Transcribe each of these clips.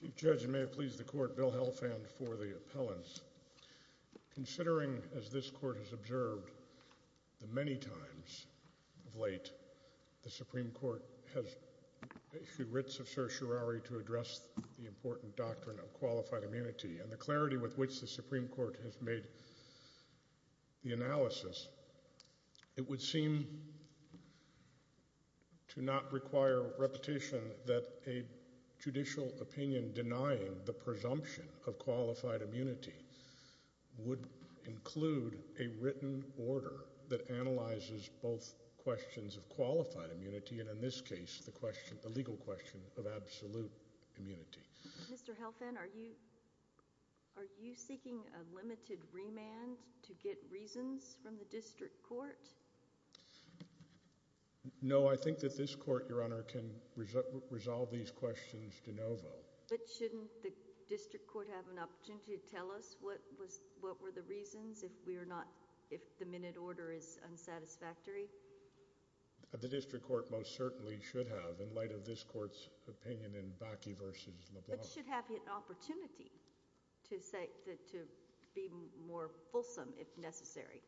Chief Judge, and may it please the Court, Bill Helfand for the appellants. Considering as this Court has observed the many times of late the Supreme Court has issued writs of certiorari to address the important doctrine of qualified immunity and the clarity with which the Supreme Court has made the analysis, it would seem to not require repetition that a judicial opinion denying the presumption of qualified immunity would include a written order that analyzes both questions of qualified immunity and, in this case, the legal question of absolute immunity. Mr. Helfand, are you seeking a limited remand to get reasons from the District Court? No, I think that this Court, Your Honor, can resolve these questions de novo. But shouldn't the District Court have an opportunity to tell us what were the reasons if the minute order is unsatisfactory? The District Court most certainly should have in light of this Court's opinion in Bakke v. LeBlanc. But it should have the opportunity to be more fulsome if necessary.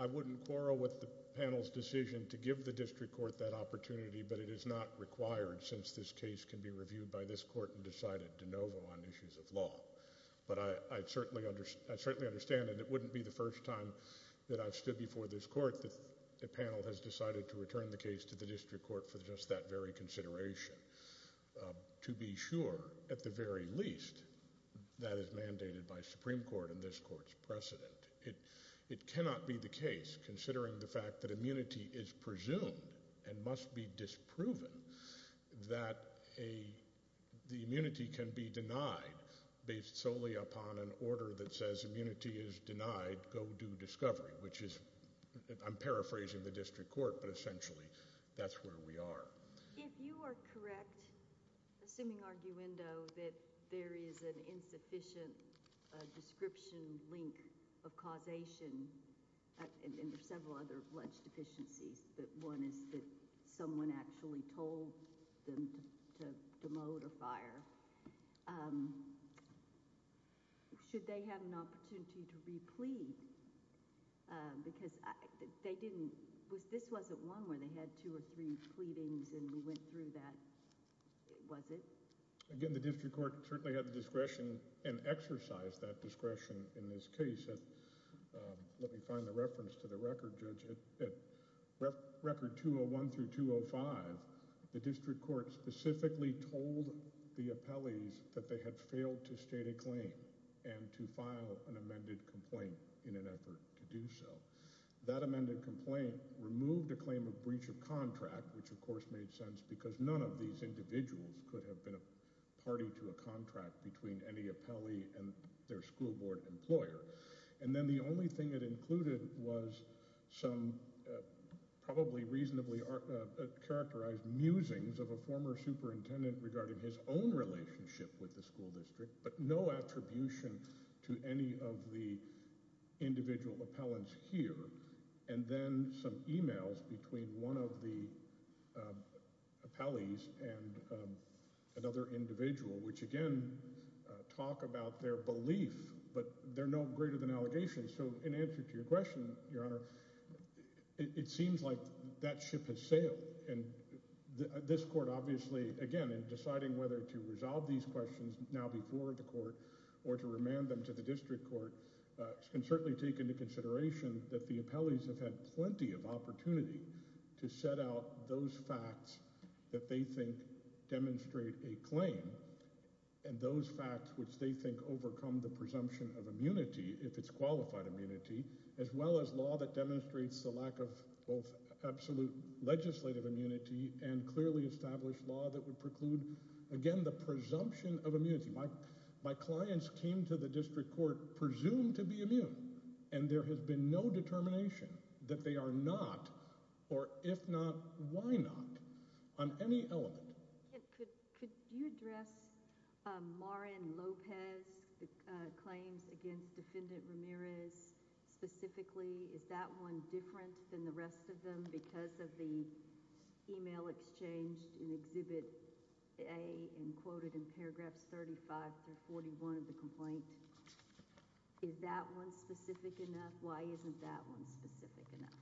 I wouldn't quarrel with the panel's decision to give the District Court that opportunity, but it is not required since this case can be reviewed by this Court and decided de novo on issues of law. But I certainly understand, and it wouldn't be the first time that I've stood before this Court that the panel has decided to return the case to the District Court for just that very consideration. To be sure, at the very least, that is mandated by Supreme Court and this Court's precedent. It cannot be the case, considering the fact that immunity is presumed and must be disproven, that the immunity can be denied based solely upon an order that says immunity is denied, go do discovery, which is, I'm paraphrasing the District Court, but essentially that's where we are. If you are correct, assuming arguendo, that there is an insufficient description, link of causation, and there are several other alleged deficiencies, but one is that someone actually told them to demote or fire, should they have an opportunity to replead? Because they didn't, this wasn't one where they had two or three pleadings and we went through that, was it? Again, the District Court certainly had the discretion and exercised that discretion in this case. Let me find the reference to the record, Judge, at Record 201-205, the District Court specifically told the appellees that they had failed to state a claim and to file an amended complaint in an effort to do so. That amended complaint removed a claim of breach of contract, which of course made sense because none of these individuals could have been a party to a contract between any appellee and their school board employer. And then the only thing it included was some probably reasonably characterized musings of a former superintendent regarding his own relationship with the school district, but no attribution to any of the individual appellants here. And then some emails between one of the appellees and another individual, which again, talk about their belief, but they're no greater than allegations. So in answer to your question, Your Honor, it seems like that ship has sailed and this whether to resolve these questions now before the court or to remand them to the District Court can certainly take into consideration that the appellees have had plenty of opportunity to set out those facts that they think demonstrate a claim and those facts which they think overcome the presumption of immunity, if it's qualified immunity, as well as law that demonstrates the lack of both absolute legislative immunity and clearly established law that would preclude, again, the presumption of immunity. My clients came to the District Court presumed to be immune, and there has been no determination that they are not, or if not, why not on any element. Could you address Maureen Lopez's claims against Defendant Ramirez specifically? Is that one different than the rest of them because of the email exchanged in Exhibit A and quoted in paragraphs 35 through 41 of the complaint? Is that one specific enough? Why isn't that one specific enough?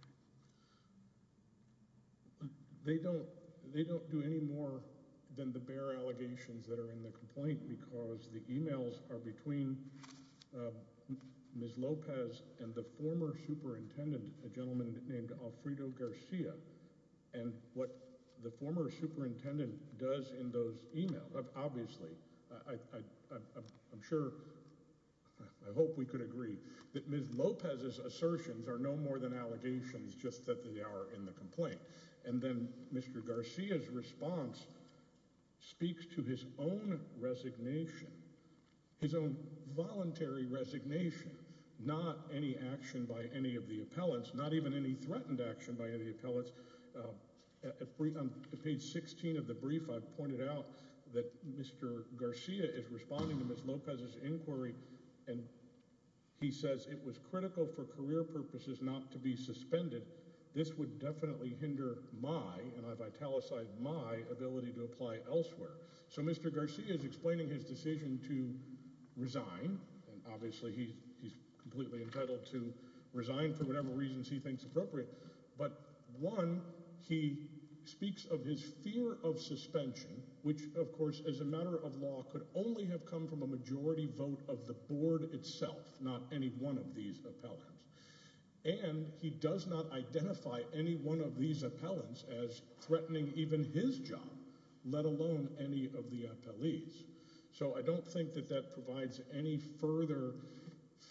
They don't do any more than the bare allegations that are in the complaint because the emails are between Ms. Lopez and the former superintendent, a gentleman named Alfredo Garcia, and what the former superintendent does in those emails, obviously, I'm sure, I hope we could agree, that Ms. Lopez's assertions are no more than allegations just that they are in the complaint. And then Mr. Garcia's response speaks to his own resignation, his own voluntary resignation, not any action by any of the appellants, not even any threatened action by any appellants. On page 16 of the brief, I've pointed out that Mr. Garcia is responding to Ms. Lopez's inquiry and he says it was critical for career purposes not to be suspended. This would definitely hinder my, and I've italicized my, ability to apply elsewhere. So Mr. Garcia is explaining his decision to resign, and obviously he's completely entitled to resign for whatever reasons he thinks appropriate, but one, he speaks of his fear of suspension, which of course as a matter of law could only have come from a majority vote of the board itself, not any one of these appellants. And he does not identify any one of these appellants as threatening even his job, let alone any of the appellees. So I don't think that that provides any further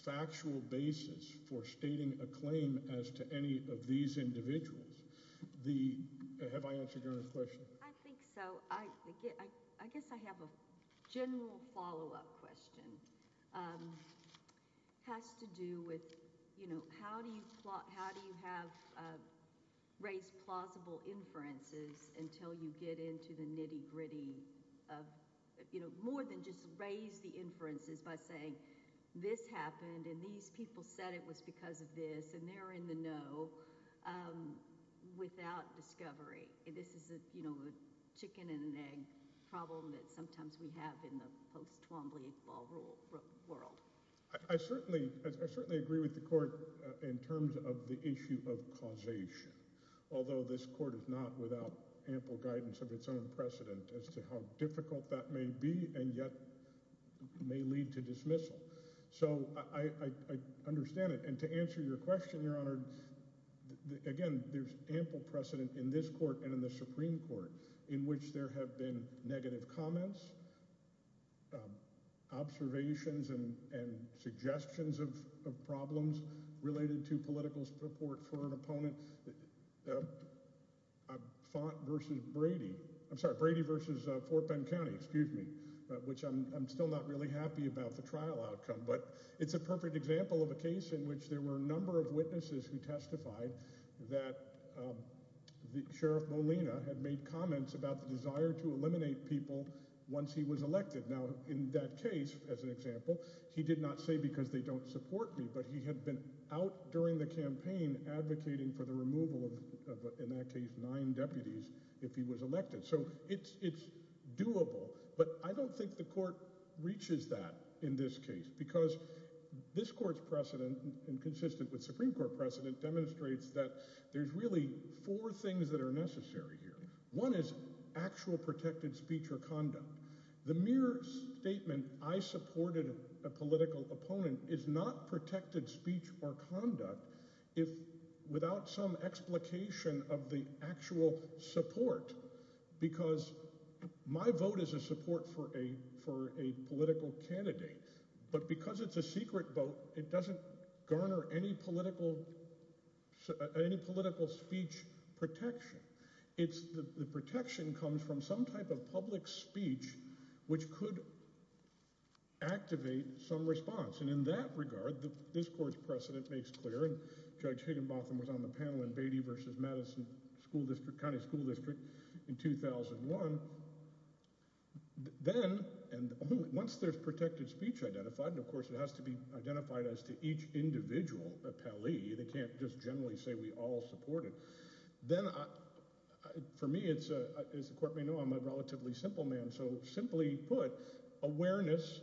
factual basis for stating a claim as to any of these individuals. The, have I answered your question? I think so. I guess I have a general follow-up question. Has to do with, you know, how do you have raised plausible inferences until you get into the nitty-gritty of, you know, more than just raise the inferences by saying this happened and these people said it was because of this and they're in the know without discovery. This is a, you know, a chicken and an egg problem that sometimes we have in the post-Twombly law world. I certainly, I certainly agree with the Court in terms of the issue of causation, although this Court is not without ample guidance of its own precedent as to how difficult that may be and yet may lead to dismissal. So I understand it, and to answer your question, Your Honor, again, there's ample precedent in this Court and in the Supreme Court in which there have been negative comments, observations and suggestions of problems related to political support for an opponent, Font v. Brady, I'm sorry, Brady v. Fort Bend County, excuse me, which I'm still not really happy about the trial outcome, but it's a perfect example of a case in which there were a number of people, Sheriff Molina had made comments about the desire to eliminate people once he was elected. Now, in that case, as an example, he did not say because they don't support me, but he had been out during the campaign advocating for the removal of, in that case, nine deputies if he was elected. So it's doable, but I don't think the Court reaches that in this case because this Court's precedent and consistent with Supreme Court precedent demonstrates that there's really four things that are necessary here. One is actual protected speech or conduct. The mere statement, I supported a political opponent, is not protected speech or conduct without some explication of the actual support because my vote is a support for a political candidate, but because it's a secret vote, it doesn't garner any political speech protection. The protection comes from some type of public speech which could activate some response and in that regard, this Court's precedent makes clear, and Judge Higginbotham was on the panel in Brady v. Madison County School District in 2001, then, and once there's protected speech identified, and of course it has to be identified as to each individual appellee, they can't just generally say we all support it, then for me, as the Court may know, I'm a relatively simple man, so simply put, awareness,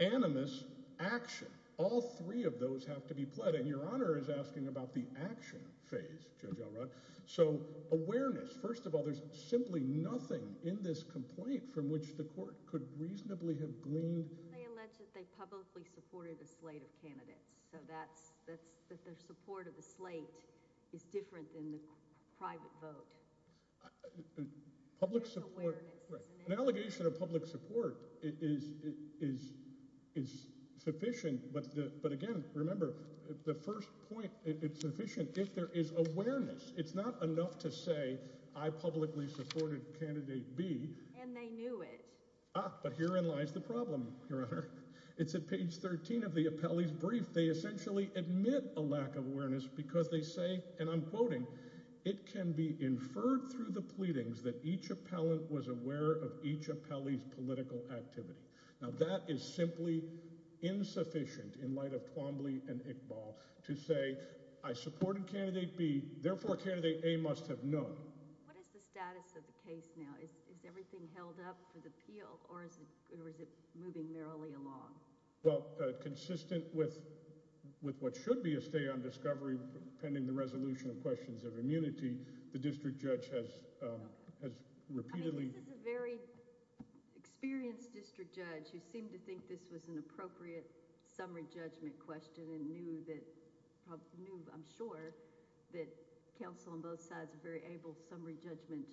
animus, action, all three of those have to be pledged, and Your Honor is asking about the action phase, Judge Elrod. So awareness, first of all, there's simply nothing in this complaint from which the Court could reasonably have gleaned. They allege that they publicly supported a slate of candidates, so that their support of the slate is different than the private vote. Public support, an allegation of public support is sufficient, but again, remember, the first point, it's sufficient if there is awareness. It's not enough to say I publicly supported candidate B. And they knew it. Ah, but herein lies the problem, Your Honor. It's at page 13 of the appellee's brief. They essentially admit a lack of awareness because they say, and I'm quoting, it can be inferred through the pleadings that each appellant was aware of each appellee's political activity. Now that is simply insufficient in light of Twombly and Iqbal to say I supported candidate B, therefore candidate A must have known. What is the status of the case now? Is everything held up for the appeal or is it moving merrily along? Well, consistent with what should be a stay on discovery pending the resolution of questions of immunity, the district judge has repeatedly— I mean, this is a very experienced district judge who seemed to think this was an appropriate summary judgment question and knew that, I'm sure, that counsel on both sides are very able summary judgment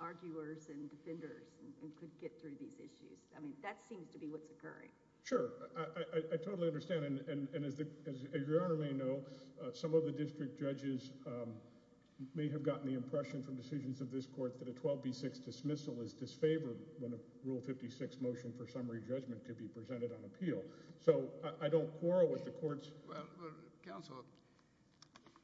arguers and defenders and could get through these issues. I mean, that seems to be what's occurring. Sure. I totally understand. And as Your Honor may know, some of the district judges may have gotten the impression from decisions of this court that a 12B6 dismissal is disfavored when a Rule 56 motion for summary judgment could be presented on appeal. So I don't quarrel with the courts— Well, counsel,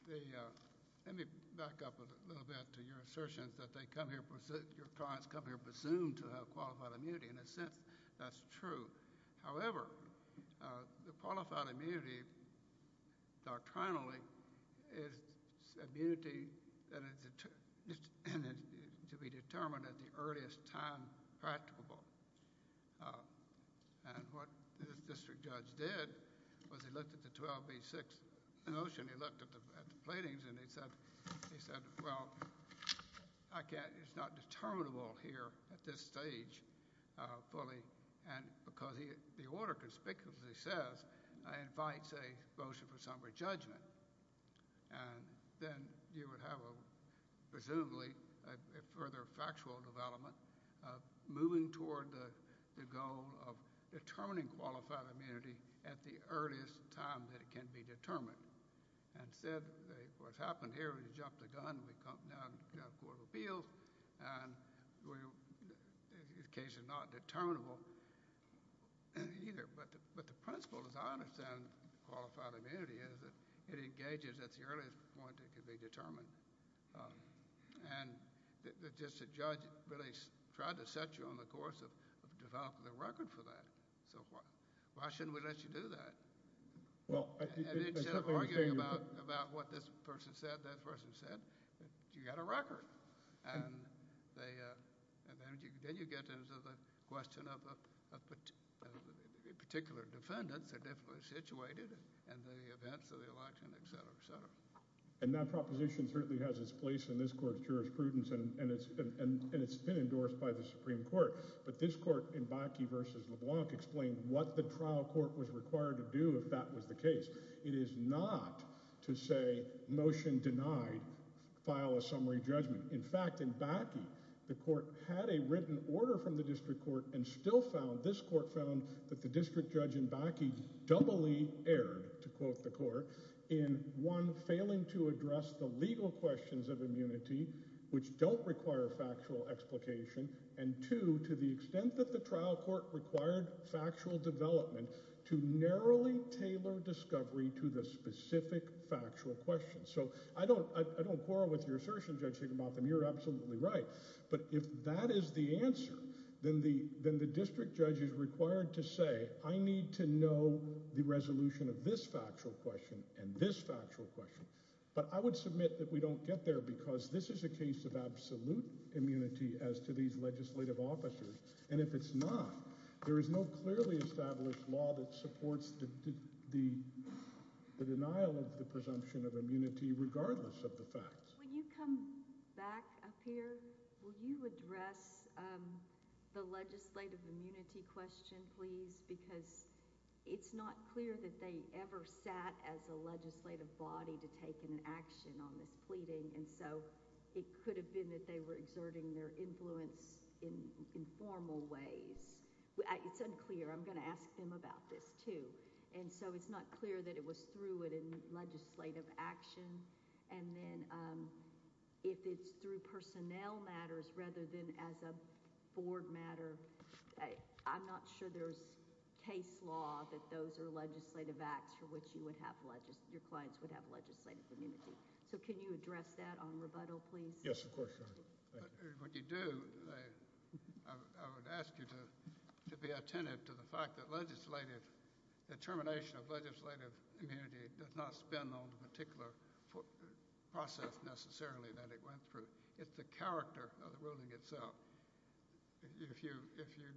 let me back up a little bit to your assertions that your clients come here presumed to have qualified immunity. In a sense, that's true. However, the qualified immunity doctrinally is immunity to be determined at the earliest time practicable. And what this district judge did was he looked at the 12B6 motion, he looked at the platings, and he said, well, I can't—it's not determinable here at this stage fully. And because the order conspicuously says, I invite, say, motion for summary judgment, and then you would have a—presumably a further factual development moving toward the goal of determining qualified immunity at the earliest time that it can be determined. And instead, what's happened here, we jumped the gun, we come down to the Court of Appeals, and the case is not determinable either. But the principle, as I understand qualified immunity, is that it engages at the earliest point it can be determined. And the district judge really tried to set you on the course of developing the record for that. So why shouldn't we let you do that? Well, I think— And instead of arguing about what this person said, that person said, you got a record. And then you get into the question of particular defendants that are definitely situated, and the events of the election, et cetera, et cetera. And that proposition certainly has its place in this Court's jurisprudence, and it's been endorsed by the Supreme Court. But this Court in Bakke v. LeBlanc explained what the trial court was required to do if that was the case. It is not to say, motion denied, file a summary judgment. In fact, in Bakke, the court had a written order from the district court and still found— this court found that the district judge in Bakke doubly erred, to quote the court, in one, failing to address the legal questions of immunity, which don't require factual explication, and two, to the extent that the trial court required factual development to narrowly tailor discovery to the specific factual questions. So I don't quarrel with your assertion, Judge Shigemotham. You're absolutely right. But if that is the answer, then the district judge is required to say, I need to know the resolution of this factual question and this factual question. But I would submit that we don't get there because this is a case of absolute immunity as to these legislative officers, and if it's not, there is no clearly established law that supports the denial of the presumption of immunity regardless of the facts. When you come back up here, will you address the legislative immunity question, please? Because it's not clear that they ever sat as a legislative body to take an action on this pleading, and so it could have been that they were exerting their influence in formal ways. It's unclear. I'm going to ask them about this, too. And so it's not clear that it was through a legislative action, and then if it's through personnel matters rather than as a board matter, I'm not sure there's case law that those are legislative acts for which your clients would have legislative immunity. So can you address that on rebuttal, please? Yes, of course, Your Honor. Thank you. What you do, I would ask you to be attentive to the fact that legislative determination of legislative immunity does not spin on the particular process necessarily that it went through. It's the character of the ruling itself. If you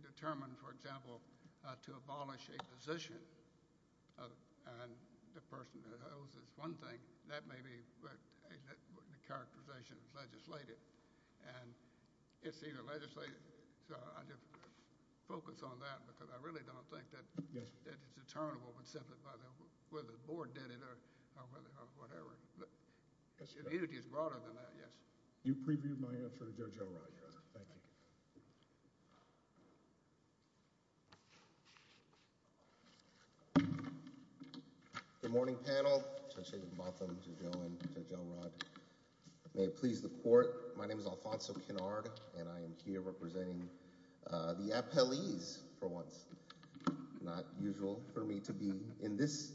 determine, for example, to abolish a position, and the person that owes this one thing, that may be what the characterization is legislative. And it's either legislative, so I just focus on that because I really don't think that it's determinable whether the board did it or whatever. But immunity is broader than that, yes. You previewed my answer to Judge O'Rourke, Your Honor. Thank you. Good morning, panel. Judge David Botham, Judge Owen, Judge Elrod. May it please the court, my name is Alfonso Kennard, and I am here representing the appellees for once. Not usual for me to be in this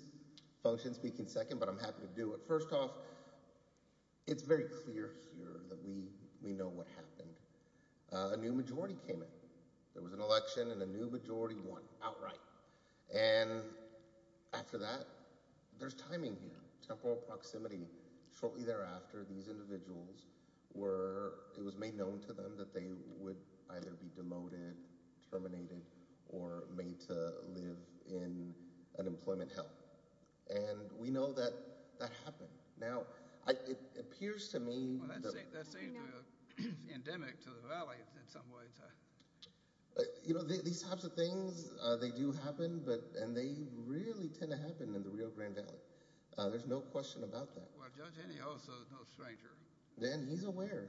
function speaking second, but I'm happy to do it. First off, it's very clear here that we know what happened. A new majority came in. There was an election, and a new majority won outright. And after that, there's timing here. Temporal proximity. Shortly thereafter, these individuals were, it was made known to them that they would either be demoted, terminated, or made to live in unemployment hell. And we know that that happened. Now, it appears to me... Well, that seems endemic to the Valley in some ways. You know, these types of things, they do happen, and they really tend to happen in the Rio Grande Valley. There's no question about that. Well, Judge Henney also is no stranger. Then he's aware,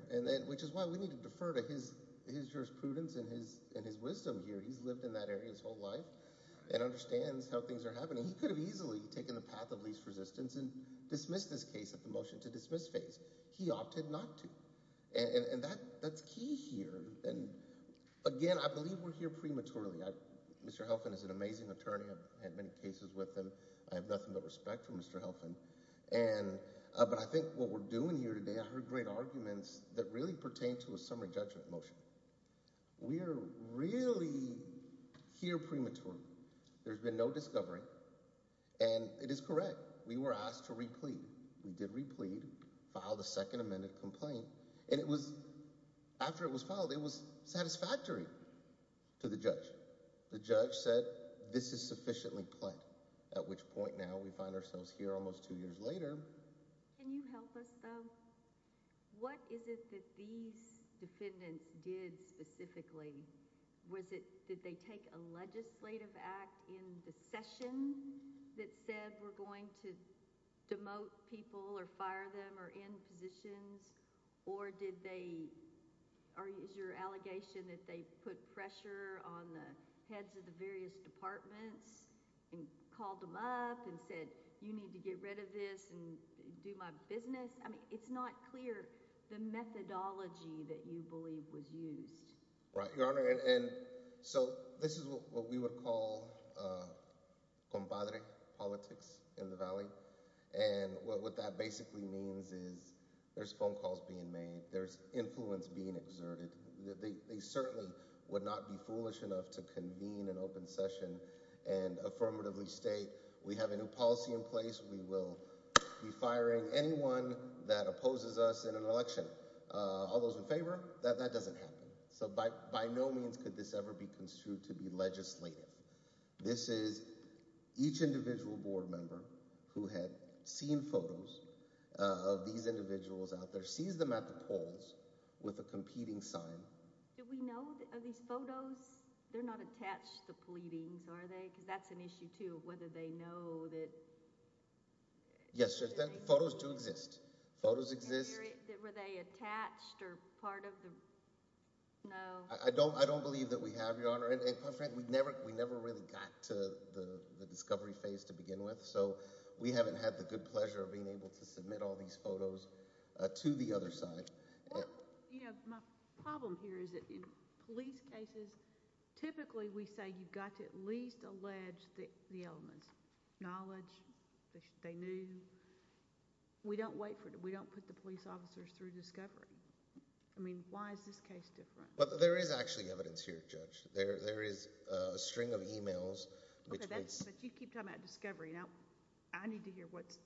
which is why we need to defer to his jurisprudence and his wisdom here. He's lived in that area his whole life and understands how things are happening. He could have easily taken the path of least resistance and dismissed this case at the motion to dismiss phase. He opted not to. And that's key here. Again, I believe we're here prematurely. Mr. Helfand is an amazing attorney. I've had many cases with him. I have nothing but respect for Mr. Helfand. But I think what we're doing here today, I heard great arguments that really pertain to a summary judgment motion. We are really here prematurely. There's been no discovery. And it is correct. We were asked to replead. We did replead, filed a second amended complaint. And it was, after it was filed, it was satisfactory to the judge. The judge said, this is sufficiently plain, at which point now we find ourselves here almost two years later. Can you help us, though? What is it that these defendants did specifically? Did they take a legislative act in the session that said we're going to demote people or fire them or end positions? Or is your allegation that they put pressure on the heads of the various departments and called them up and said, you need to get rid of this and do my business? I mean, it's not clear the methodology that you believe was used. Your Honor, and so this is what we would call compadre politics in the Valley. And what that basically means is there's phone calls being made. There's influence being exerted. They certainly would not be foolish enough to convene an open session and affirmatively state, we have a new policy in place. We will be firing anyone that opposes us in an election. All those in favor? That doesn't happen. So by no means could this ever be construed to be legislative. This is each individual board member who had seen photos of these individuals out there sees them at the polls with a competing sign. Do we know, are these photos, they're not attached to pleadings, are they? Because that's an issue too, whether they know that Yes, photos do exist. Photos exist. Were they attached or part of the? No. I don't believe that we have, Your Honor. And my friend, we never really got to the discovery phase to begin with. So we haven't had the good pleasure of being able to submit all these photos to the other side. Well, you know, my problem here is that in police cases, typically we say you've got to at least allege the elements. Knowledge, they knew. We don't wait for it. We don't put the police officers through discovery. I mean, why is this case different? There is actually evidence here, Judge. There is a string of emails. But you keep talking about discovery. Now, I need to hear what's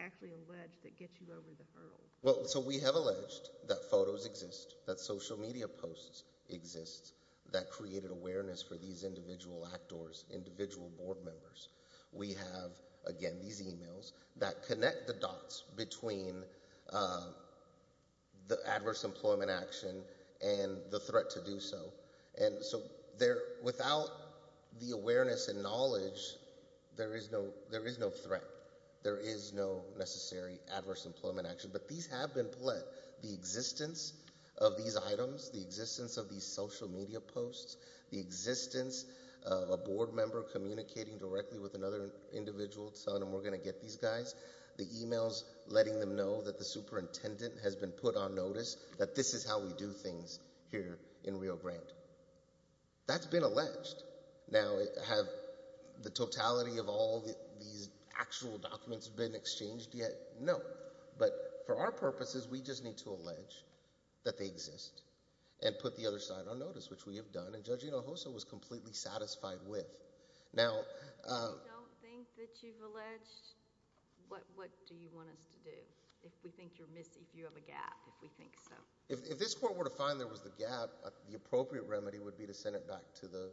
actually alleged that gets you over the hurdle. Well, so we have alleged that photos exist, that social media posts exist, that created awareness for these individual actors, individual board members. We have, again, these emails that connect the dots between the adverse employment action and the threat to do so. And so without the awareness and knowledge, there is no threat. There is no necessary adverse employment action. But these have been pledged. The existence of these items, the existence of these social media posts, the existence of a board member communicating directly with another individual telling them we're going to get these guys, the emails letting them know that the superintendent has been put on notice, that this is how we do things here in Rio Grande. That's been alleged. Now, have the totality of all these actual documents been exchanged yet? No. But for our purposes, we just need to allege that they exist and put the other side on notice, which we have done. And Judge Hinojosa was completely satisfied with. Now— If you don't think that you've alleged, what do you want us to do? If we think you're missing, if you have a gap, if we think so. If this court were to find there was a gap, the appropriate remedy would be to send it back to the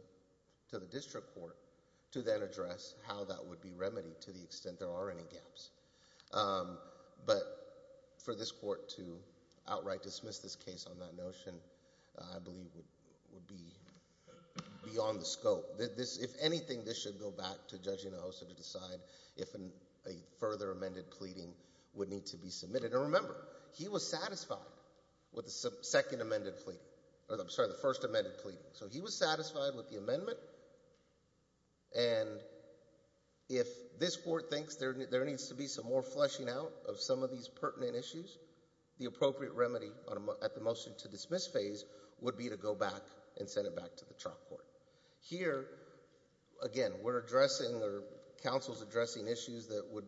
district court to then address how that would be remedied to the extent there are any gaps. But for this court to outright dismiss this case on that notion, I believe would be beyond the scope. If anything, this should go back to Judge Hinojosa to decide if a further amended pleading would need to be submitted. And remember, he was satisfied with the second amended pleading— I'm sorry, the first amended pleading. So he was satisfied with the amendment. And if this court thinks there needs to be some more fleshing out of some of these pertinent issues, the appropriate remedy at the motion to dismiss phase would be to go back and send it back to the trial court. Here, again, we're addressing or counsel's addressing issues that would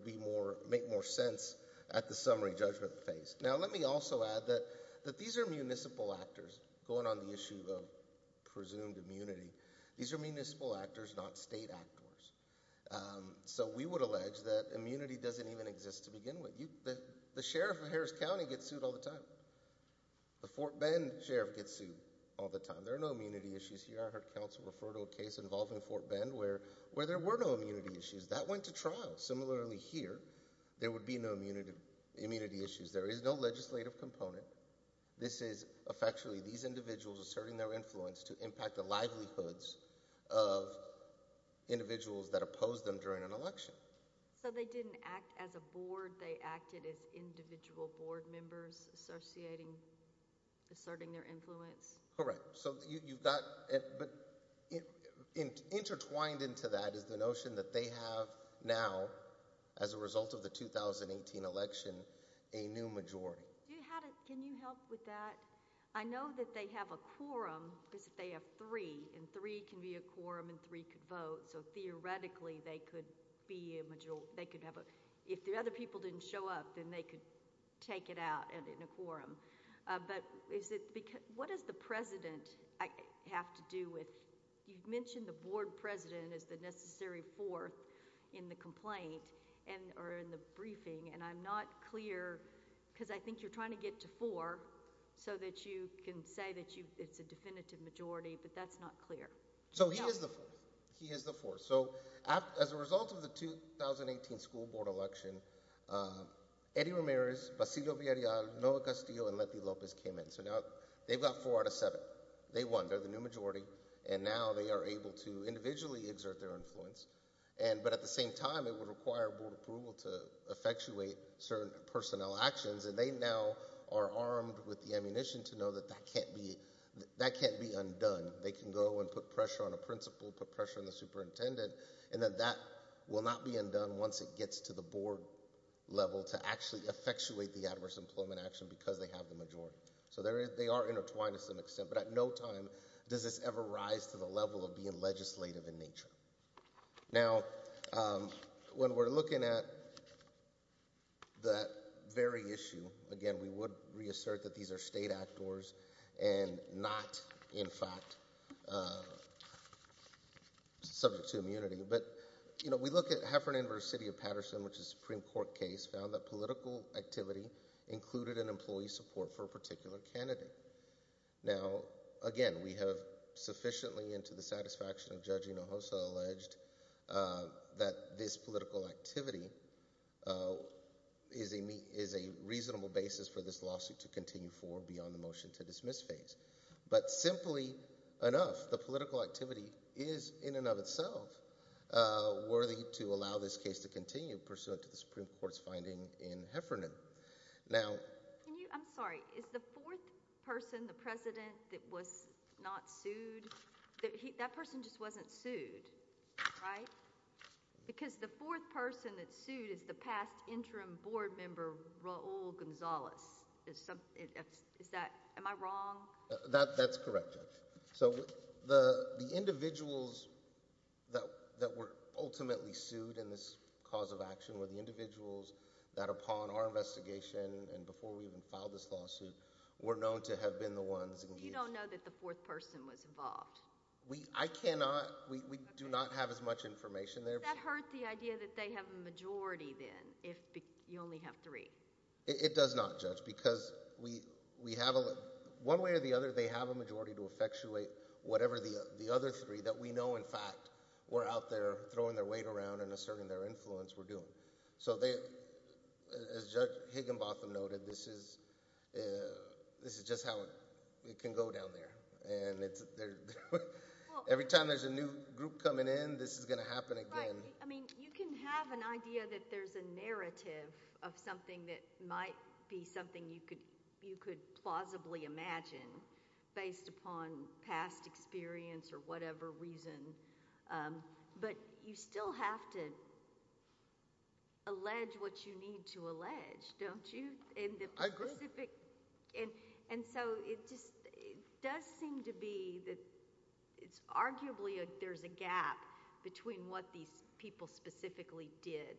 make more sense at the summary judgment phase. Now let me also add that these are municipal actors going on the issue of presumed immunity. These are municipal actors, not state actors. So we would allege that immunity doesn't even exist to begin with. The sheriff of Harris County gets sued all the time. The Fort Bend sheriff gets sued all the time. There are no immunity issues here. I heard counsel refer to a case involving Fort Bend where there were no immunity issues. That went to trial. Similarly here, there would be no immunity issues. There is no legislative component. This is effectually these individuals asserting their influence to impact the livelihoods of individuals that opposed them during an election. So they didn't act as a board. They acted as individual board members associating, asserting their influence. Correct. So you've got, but intertwined into that is the notion that they have now, as a result of the 2018 election, a new majority. Can you help with that? I know that they have a quorum, because if they have three, and three can be a quorum and three could vote, so theoretically they could be a majority. If the other people didn't show up, then they could take it out in a quorum. But what does the president have to do with, you mentioned the board president as the necessary fourth in the complaint, or in the briefing, and I'm not clear, because I think you're trying to get to four, so that you can say that it's a definitive majority, but that's not clear. So he is the fourth. So as a result of the 2018 school board election, Eddie Ramirez, Basilio Villarreal, Noah Castillo, and Letty Lopez came in. So now they've got four out of seven. They won. They're the new majority, and now they are able to individually exert their influence, but at the same time it would require board approval to effectuate certain personnel actions, and they now are armed with the ammunition to know that that can't be undone. They can go and put pressure on a principal, put pressure on the superintendent, and that that will not be undone once it gets to the board level to actually effectuate the adverse employment action because they have the majority. So they are intertwined to some extent, but at no time does this ever rise to the level of being legislative in nature. Now, when we're looking at that very issue, again, we would reassert that these are state actors and not, in fact, subject to immunity. But we look at Heffernan versus City of Patterson, which is a Supreme Court case, found that political activity included an employee support for a particular candidate. Now, again, we have sufficiently into the satisfaction of Judge Hinojosa alleged that this political activity is a reasonable basis for this lawsuit to continue forward beyond the motion-to-dismiss phase. But simply enough, the political activity is, in and of itself, worthy to allow this case to continue pursuant to the Supreme Court's finding in Heffernan. Now— I'm sorry. Is the fourth person, the president, that was not sued, that person just wasn't sued, right? Because the fourth person that's sued is the past interim board member Raul Gonzalez. Is that—am I wrong? That's correct, Judge. So the individuals that were ultimately sued in this cause of action were the individuals that, upon our investigation and before we even filed this lawsuit, were known to have been the ones engaged. But you don't know that the fourth person was involved? I cannot—we do not have as much information there. Does that hurt the idea that they have a majority, then, if you only have three? It does not, Judge, because we have a— one way or the other, they have a majority to effectuate whatever the other three that we know, in fact, were out there throwing their weight around and asserting their influence were doing. So they—as Judge Higginbotham noted, this is just how it can go down there. And every time there's a new group coming in, this is going to happen again. Right. I mean, you can have an idea that there's a narrative of something that might be something you could plausibly imagine based upon past experience or whatever reason, but you still have to allege what you need to allege, don't you? And the specific— I agree with you. And so it just does seem to be that it's arguably there's a gap between what these people specifically did.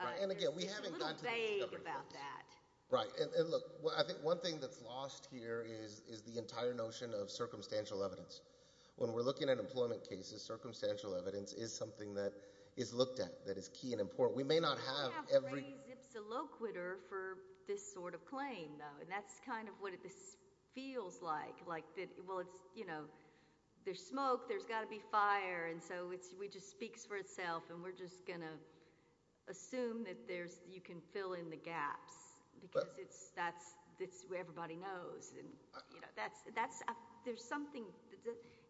Right. And again, we haven't gotten to the— It's a little vague about that. Right. And look, I think one thing that's lost here is the entire notion of circumstantial evidence. When we're looking at employment cases, circumstantial evidence is something that is looked at, that is key and important. We may not have every— We're looking for this sort of claim, though, and that's kind of what this feels like. Well, there's smoke, there's got to be fire, and so it just speaks for itself, and we're just going to assume that you can fill in the gaps because that's what everybody knows. There's something—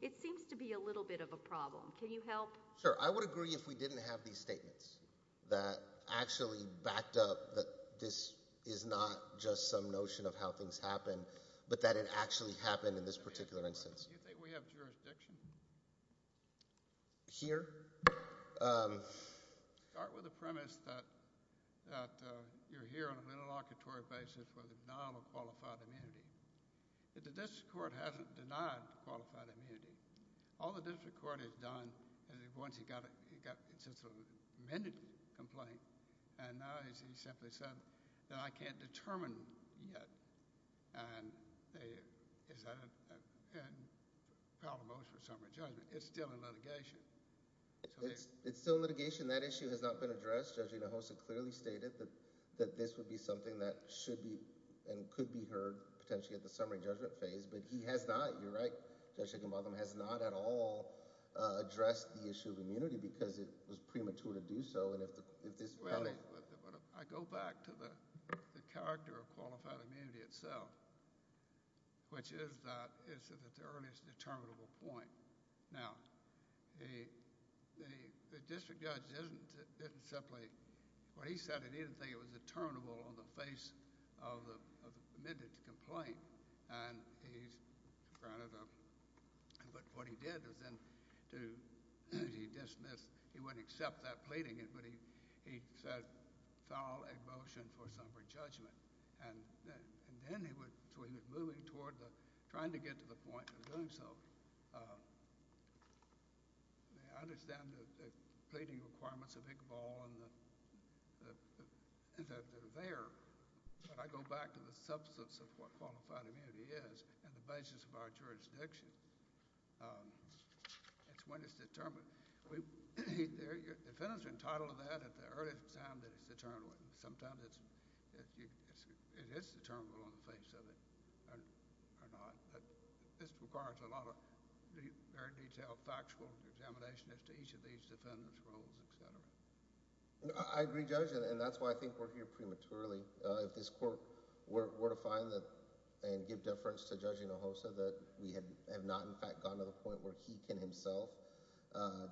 It seems to be a little bit of a problem. Can you help? Sure. I would agree if we didn't have these statements that actually backed up that this is not just some notion of how things happen, but that it actually happened in this particular instance. Do you think we have jurisdiction? Here? Start with the premise that you're here on an interlocutory basis with a denial of qualified immunity. The district court hasn't denied qualified immunity. All the district court has done, once it's a sort of amended complaint, and now he's simply said that I can't determine yet, and is that a problem for summary judgment? It's still in litigation. It's still in litigation. That issue has not been addressed. Judge Inahosa clearly stated that this would be something that should be and could be heard potentially at the summary judgment phase, but he has not—you're right, Judge Higginbotham— he has not at all addressed the issue of immunity because it was premature to do so, and if this— Well, I go back to the character of qualified immunity itself, which is that it's the earliest determinable point. Now, the district judge didn't simply— when he said it, he didn't think it was determinable on the face of the amended complaint, and he's granted a— but what he did was then to—he dismissed— he wouldn't accept that pleading, but he said foul emotion for summary judgment, and then he would—so he was moving toward the— trying to get to the point of doing so. I understand the pleading requirements of Iqbal and that they're there, but I go back to the substance of what qualified immunity is and the basis of our jurisdiction. It's when it's determined. Defendants are entitled to that at the earliest time that it's determined. Sometimes it is determinable on the face of it or not, but this requires a lot of very detailed factual examination as to each of these defendants' roles, et cetera. I agree, Judge, and that's why I think we're here prematurely. If this court were to find and give deference to Judge Hinojosa that we have not, in fact, gotten to the point where he can himself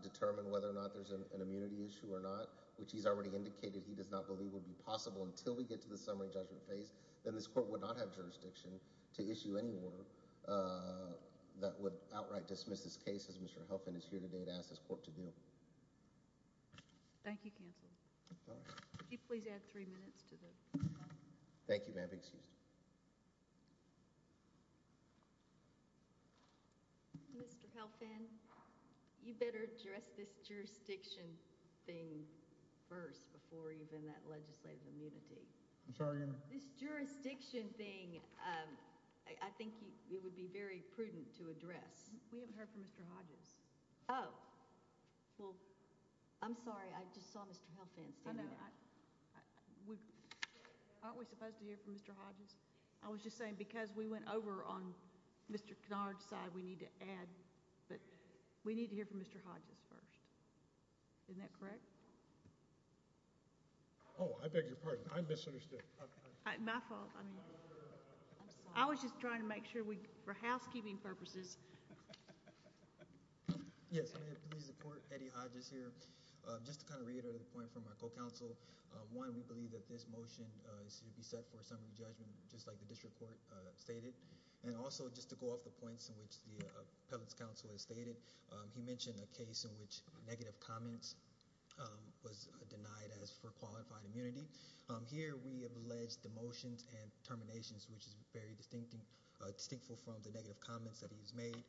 determine whether or not there's an immunity issue or not, which he's already indicated he does not believe would be possible until we get to the summary judgment phase, then this court would not have jurisdiction to issue any order that would outright dismiss this case, as Mr. Helfand is here today to ask this court to do. Thank you, Counsel. Could you please add three minutes to the time? Thank you, ma'am. Excuse me. Mr. Helfand, you better address this jurisdiction thing first before even that legislative immunity. I'm sorry? This jurisdiction thing, I think it would be very prudent to address. We haven't heard from Mr. Hodges. Oh. Well, I'm sorry. I just saw Mr. Helfand standing there. Aren't we supposed to hear from Mr. Hodges? I was just saying because we went over on Mr. Hinojosa, we need to add. But we need to hear from Mr. Hodges first. Isn't that correct? Oh, I beg your pardon. I misunderstood. My fault. I was just trying to make sure for housekeeping purposes. Yes, I'm here to please the court. Eddie Hodges here. Just to kind of reiterate a point from our co-counsel, one, we believe that this motion should be set for a summary judgment, just like the district court stated. And also just to go off the points in which the appellate's counsel has stated, he mentioned a case in which negative comments was denied as for qualified immunity. Here we have alleged demotions and terminations, which is very distinctive from the negative comments that he has made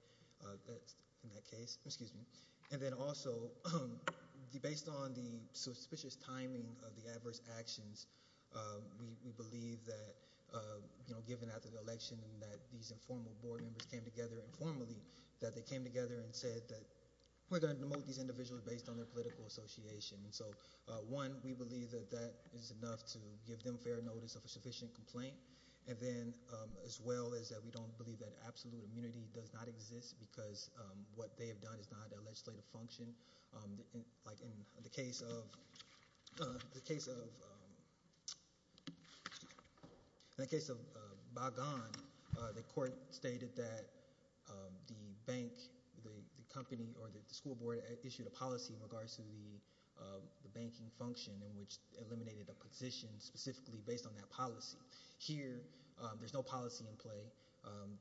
in that case. Excuse me. And then also based on the suspicious timing of the adverse actions, we believe that, you know, given after the election and that these informal board members came together informally, that they came together and said that we're going to demote these individuals based on their political association. And so, one, we believe that that is enough to give them fair notice of a sufficient complaint. And then as well is that we don't believe that absolute immunity does not exist because what they have done is not a legislative function. Like in the case of the case of. In the case of bygone, the court stated that the bank, the company, or the school board issued a policy in regards to the banking function in which eliminated a position specifically based on that policy. Here, there's no policy in play.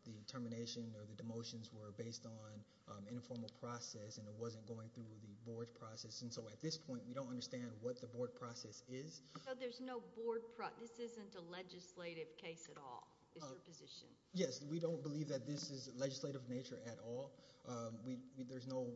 The termination or the demotions were based on informal process and it wasn't going through the board process. And so at this point, we don't understand what the board process is. So there's no board. This isn't a legislative case at all. Is your position. Yes. We don't believe that this is legislative nature at all. There's no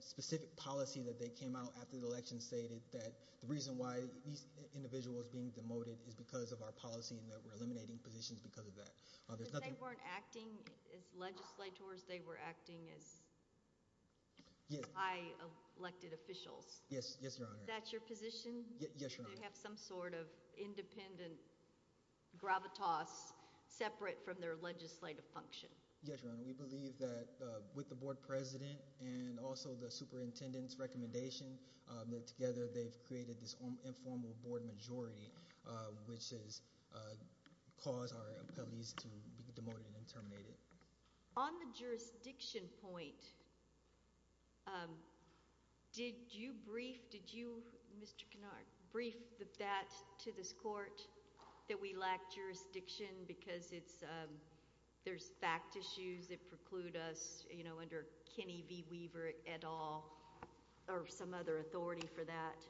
specific policy that they came out after the election stated that the reason why these individuals being demoted is because of our policy and that we're eliminating positions because of that. They weren't acting as legislators. They were acting as. I elected officials. Yes. Yes, Your Honor. That's your position. Yes. You have some sort of independent gravitas separate from their legislative function. Yes, Your Honor. We believe that with the board president and also the superintendent's recommendation that together they've created this informal board majority, which is cause our police to be demoted and terminated. On the jurisdiction point. Did you brief? Did you, Mr. Canard, brief that to this court that we lack jurisdiction because it's there's fact issues that preclude us, you know, under Kenny V. Weaver et al or some other authority for that.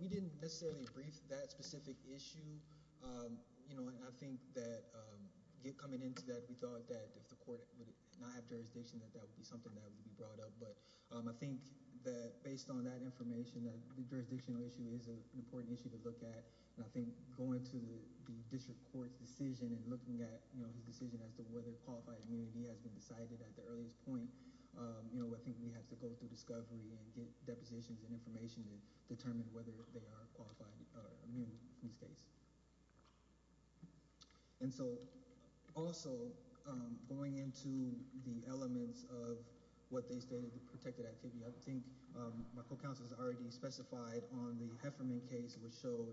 We didn't necessarily brief that specific issue. You know, I think that get coming into that. We thought that if the court would not have jurisdiction, that that would be something that would be brought up. But I think that based on that information, that the jurisdictional issue is an important issue to look at. And I think going to the district court's decision and looking at his decision as to whether qualified immunity has been decided at the earliest point. You know, I think we have to go through discovery and get depositions and information to determine whether they are qualified or immune in this case. And so also going into the elements of what they stated, the protected activity, I think my co-counsel has already specified on the Hefferman case, which showed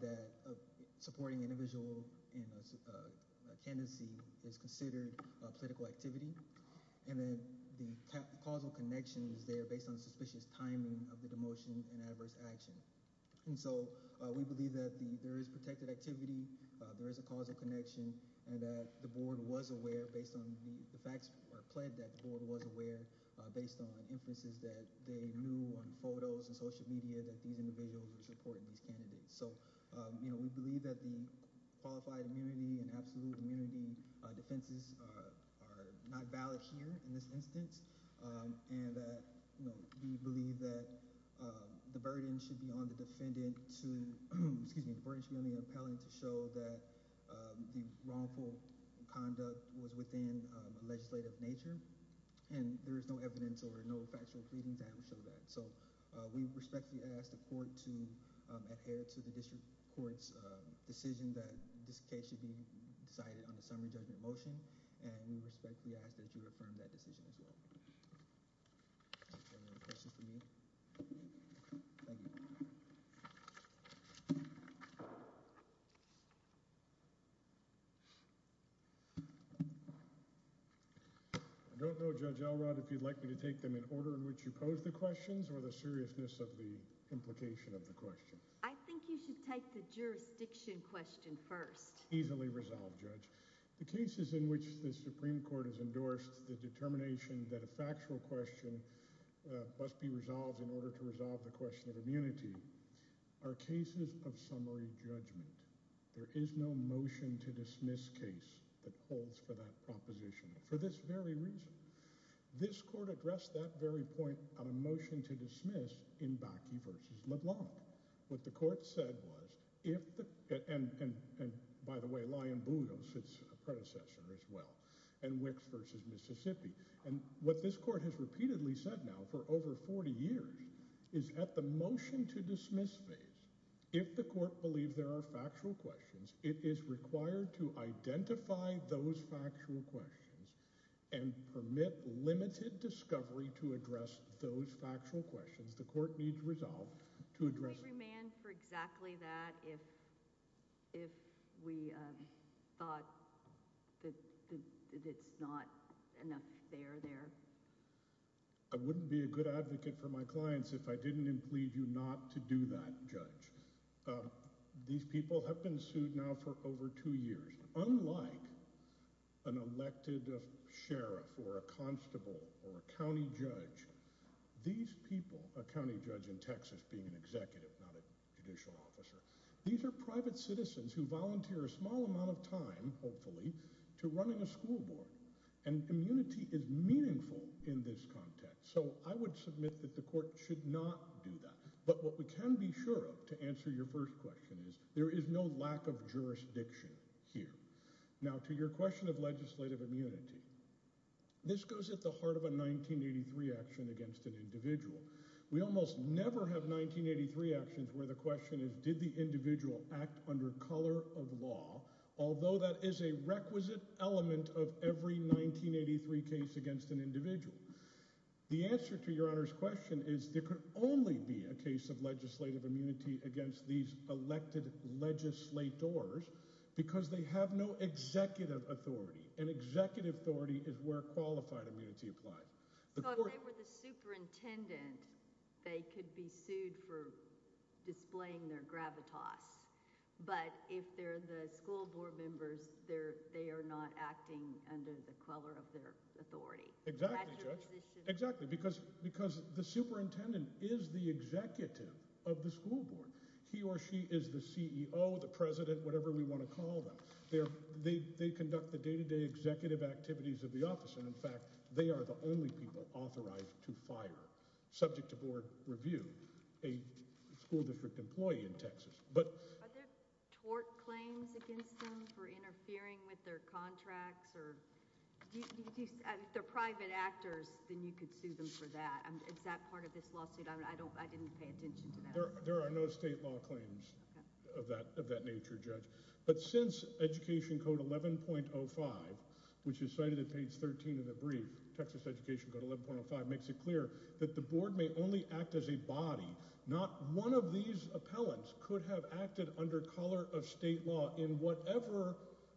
that supporting individual in a candidacy is considered political activity. And then the causal connection is there based on suspicious timing of the demotion and adverse action. And so we believe that there is protected activity. There is a causal connection and that the board was aware based on the facts or pledged that the board was aware based on inferences that they knew on photos and social media that these individuals were supporting these candidates. So, you know, we believe that the qualified immunity and absolute immunity defenses are not valid here in this instance. And we believe that the burden should be on the defendant to excuse me, the burden should be on the appellant to show that the wrongful conduct was within a legislative nature. And there is no evidence or no factual pleading to show that. So we respectfully ask the court to adhere to the district court's decision that this case should be decided on a summary judgment motion. And we respectfully ask that you affirm that decision as well. Thank you. I don't know, Judge Elrod, if you'd like me to take them in order in which you pose the questions or the seriousness of the implication of the question. I think you should take the jurisdiction question first. The cases in which the Supreme Court has endorsed the determination that a factual question must be resolved in order to resolve the question of immunity are cases of summary judgment. There is no motion to dismiss case that holds for that proposition for this very reason. This court addressed that very point on a motion to dismiss in Bakke versus LeBlanc. What the court said was, and by the way, Lyon-Boudreaux is a predecessor as well, and Wicks versus Mississippi. And what this court has repeatedly said now for over 40 years is at the motion to dismiss phase, if the court believes there are factual questions, it is required to identify those factual questions and permit limited discovery to address those factual questions the court needs resolved to address them. Would you command for exactly that if we thought that it's not enough there there? I wouldn't be a good advocate for my clients if I didn't implied you not to do that, Judge. These people have been sued now for over two years. Unlike an elected sheriff or a constable or a county judge, these people, a county judge in Texas being an executive, not a judicial officer, these are private citizens who volunteer a small amount of time, hopefully, to running a school board. And immunity is meaningful in this context. So I would submit that the court should not do that. But what we can be sure of, to answer your first question, is there is no lack of jurisdiction here. Now, to your question of legislative immunity, this goes at the heart of a 1983 action against an individual. We almost never have 1983 actions where the question is did the individual act under color of law, although that is a requisite element of every 1983 case against an individual. The answer to your Honor's question is there could only be a case of legislative immunity against these elected legislators because they have no executive authority. And executive authority is where qualified immunity applies. So if they were the superintendent, they could be sued for displaying their gravitas. But if they're the school board members, they are not acting under the color of their authority. Exactly, Judge. Exactly. Because the superintendent is the executive of the school board. He or she is the CEO, the president, whatever we want to call them. They conduct the day-to-day executive activities of the office. And, in fact, they are the only people authorized to fire, subject to board review, a school district employee in Texas. Are there tort claims against them for interfering with their contracts? If they're private actors, then you could sue them for that. Is that part of this lawsuit? I didn't pay attention to that. There are no state law claims of that nature, Judge. But since Education Code 11.05, which is cited at page 13 of the brief, Texas Education Code 11.05, makes it clear that the board may only act as a body. Not one of these appellants could have acted under color of state law in whatever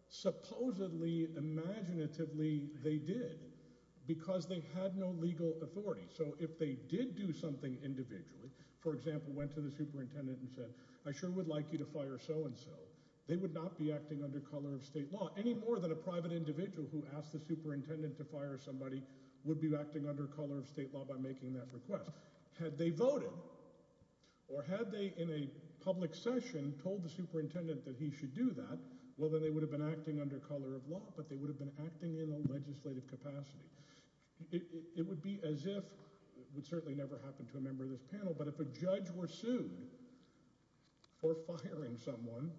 supposedly imaginatively they did because they had no legal authority. So if they did do something individually, for example, went to the superintendent and said, I sure would like you to fire so-and-so, they would not be acting under color of state law. Any more than a private individual who asked the superintendent to fire somebody would be acting under color of state law by making that request. Had they voted or had they, in a public session, told the superintendent that he should do that, well, then they would have been acting under color of law. But they would have been acting in a legislative capacity. It would be as if, it would certainly never happen to a member of this panel, but if a judge were sued for firing someone,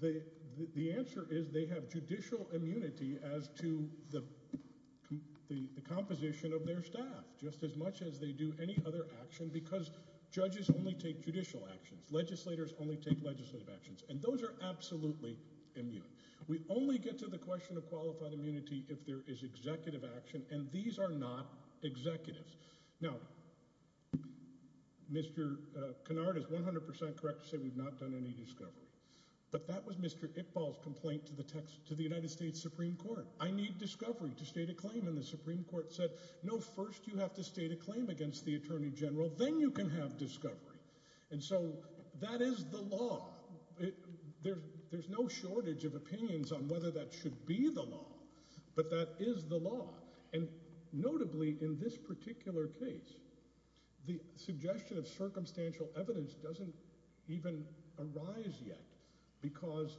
the answer is they have judicial immunity as to the composition of their staff just as much as they do any other action because judges only take judicial actions. Legislators only take legislative actions. And those are absolutely immune. We only get to the question of qualified immunity if there is executive action, and these are not executives. Now, Mr. Kennard is 100% correct to say we've not done any discovery. But that was Mr. Iqbal's complaint to the United States Supreme Court. I need discovery to state a claim. And the Supreme Court said, no, first you have to state a claim against the attorney general, then you can have discovery. And so that is the law. There's no shortage of opinions on whether that should be the law. But that is the law. And notably in this particular case, the suggestion of circumstantial evidence doesn't even arise yet because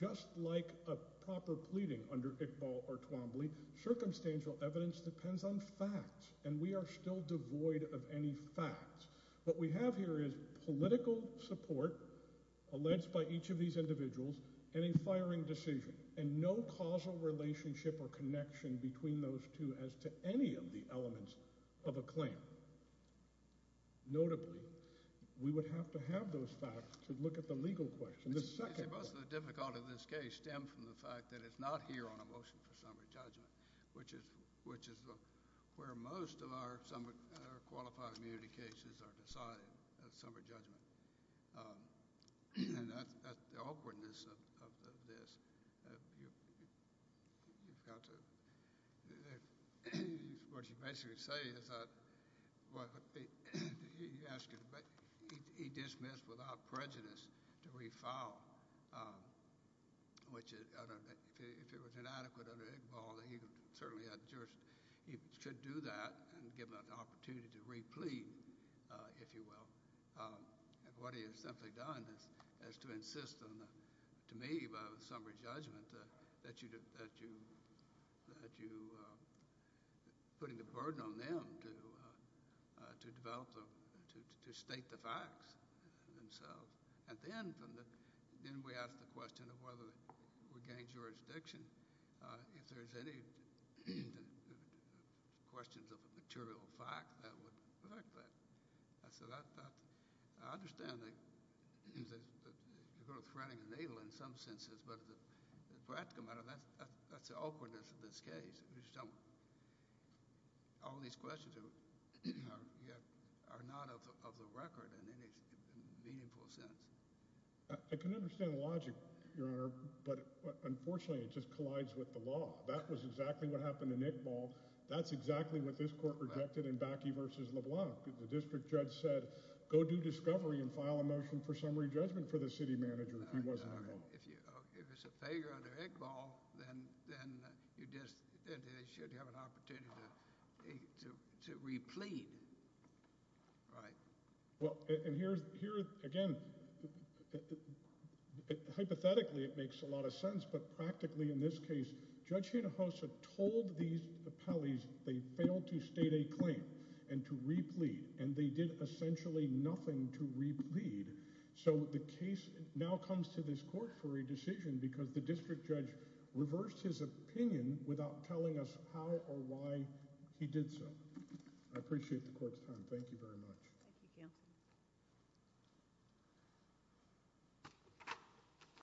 just like a proper pleading under Iqbal or Twombly, circumstantial evidence depends on facts, and we are still devoid of any facts. What we have here is political support alleged by each of these individuals and a firing decision and no causal relationship or connection between those two as to any of the elements of a claim. Notably, we would have to have those facts to look at the legal question. Most of the difficulty of this case stems from the fact that it's not here on a motion for summary judgment, which is where most of our qualified immunity cases are decided, a summary judgment. And the awkwardness of this, you've got to – what you basically say is that – you ask – he dismissed without prejudice to refile, which if it was inadequate under Iqbal, he certainly had jurisdiction. He should do that and give an opportunity to replead, if you will. And what he has simply done is to insist on the – to me by the summary judgment that you – putting the burden on them to develop the – to state the facts themselves. And then from the – then we ask the question of whether we gain jurisdiction. If there's any questions of a material fact, that would affect that. I said I understand that you're going to threaten the natal in some senses, but as a practical matter, that's the awkwardness of this case. All these questions are not of the record in any meaningful sense. I can understand the logic, Your Honor, but unfortunately it just collides with the law. That was exactly what happened in Iqbal. That's exactly what this court rejected in Bakke v. LeBlanc. The district judge said go do discovery and file a motion for summary judgment for the city manager if he wasn't involved. If it's a failure under Iqbal, then you just – they should have an opportunity to replead. Right. Well, and here, again, hypothetically it makes a lot of sense, but practically in this case Judge Hinojosa told these appellees they failed to state a claim and to replead, and they did essentially nothing to replead. So the case now comes to this court for a decision because the district judge reversed his opinion without telling us how or why he did so. I appreciate the court's time. Thank you very much. Thank you, Counsel.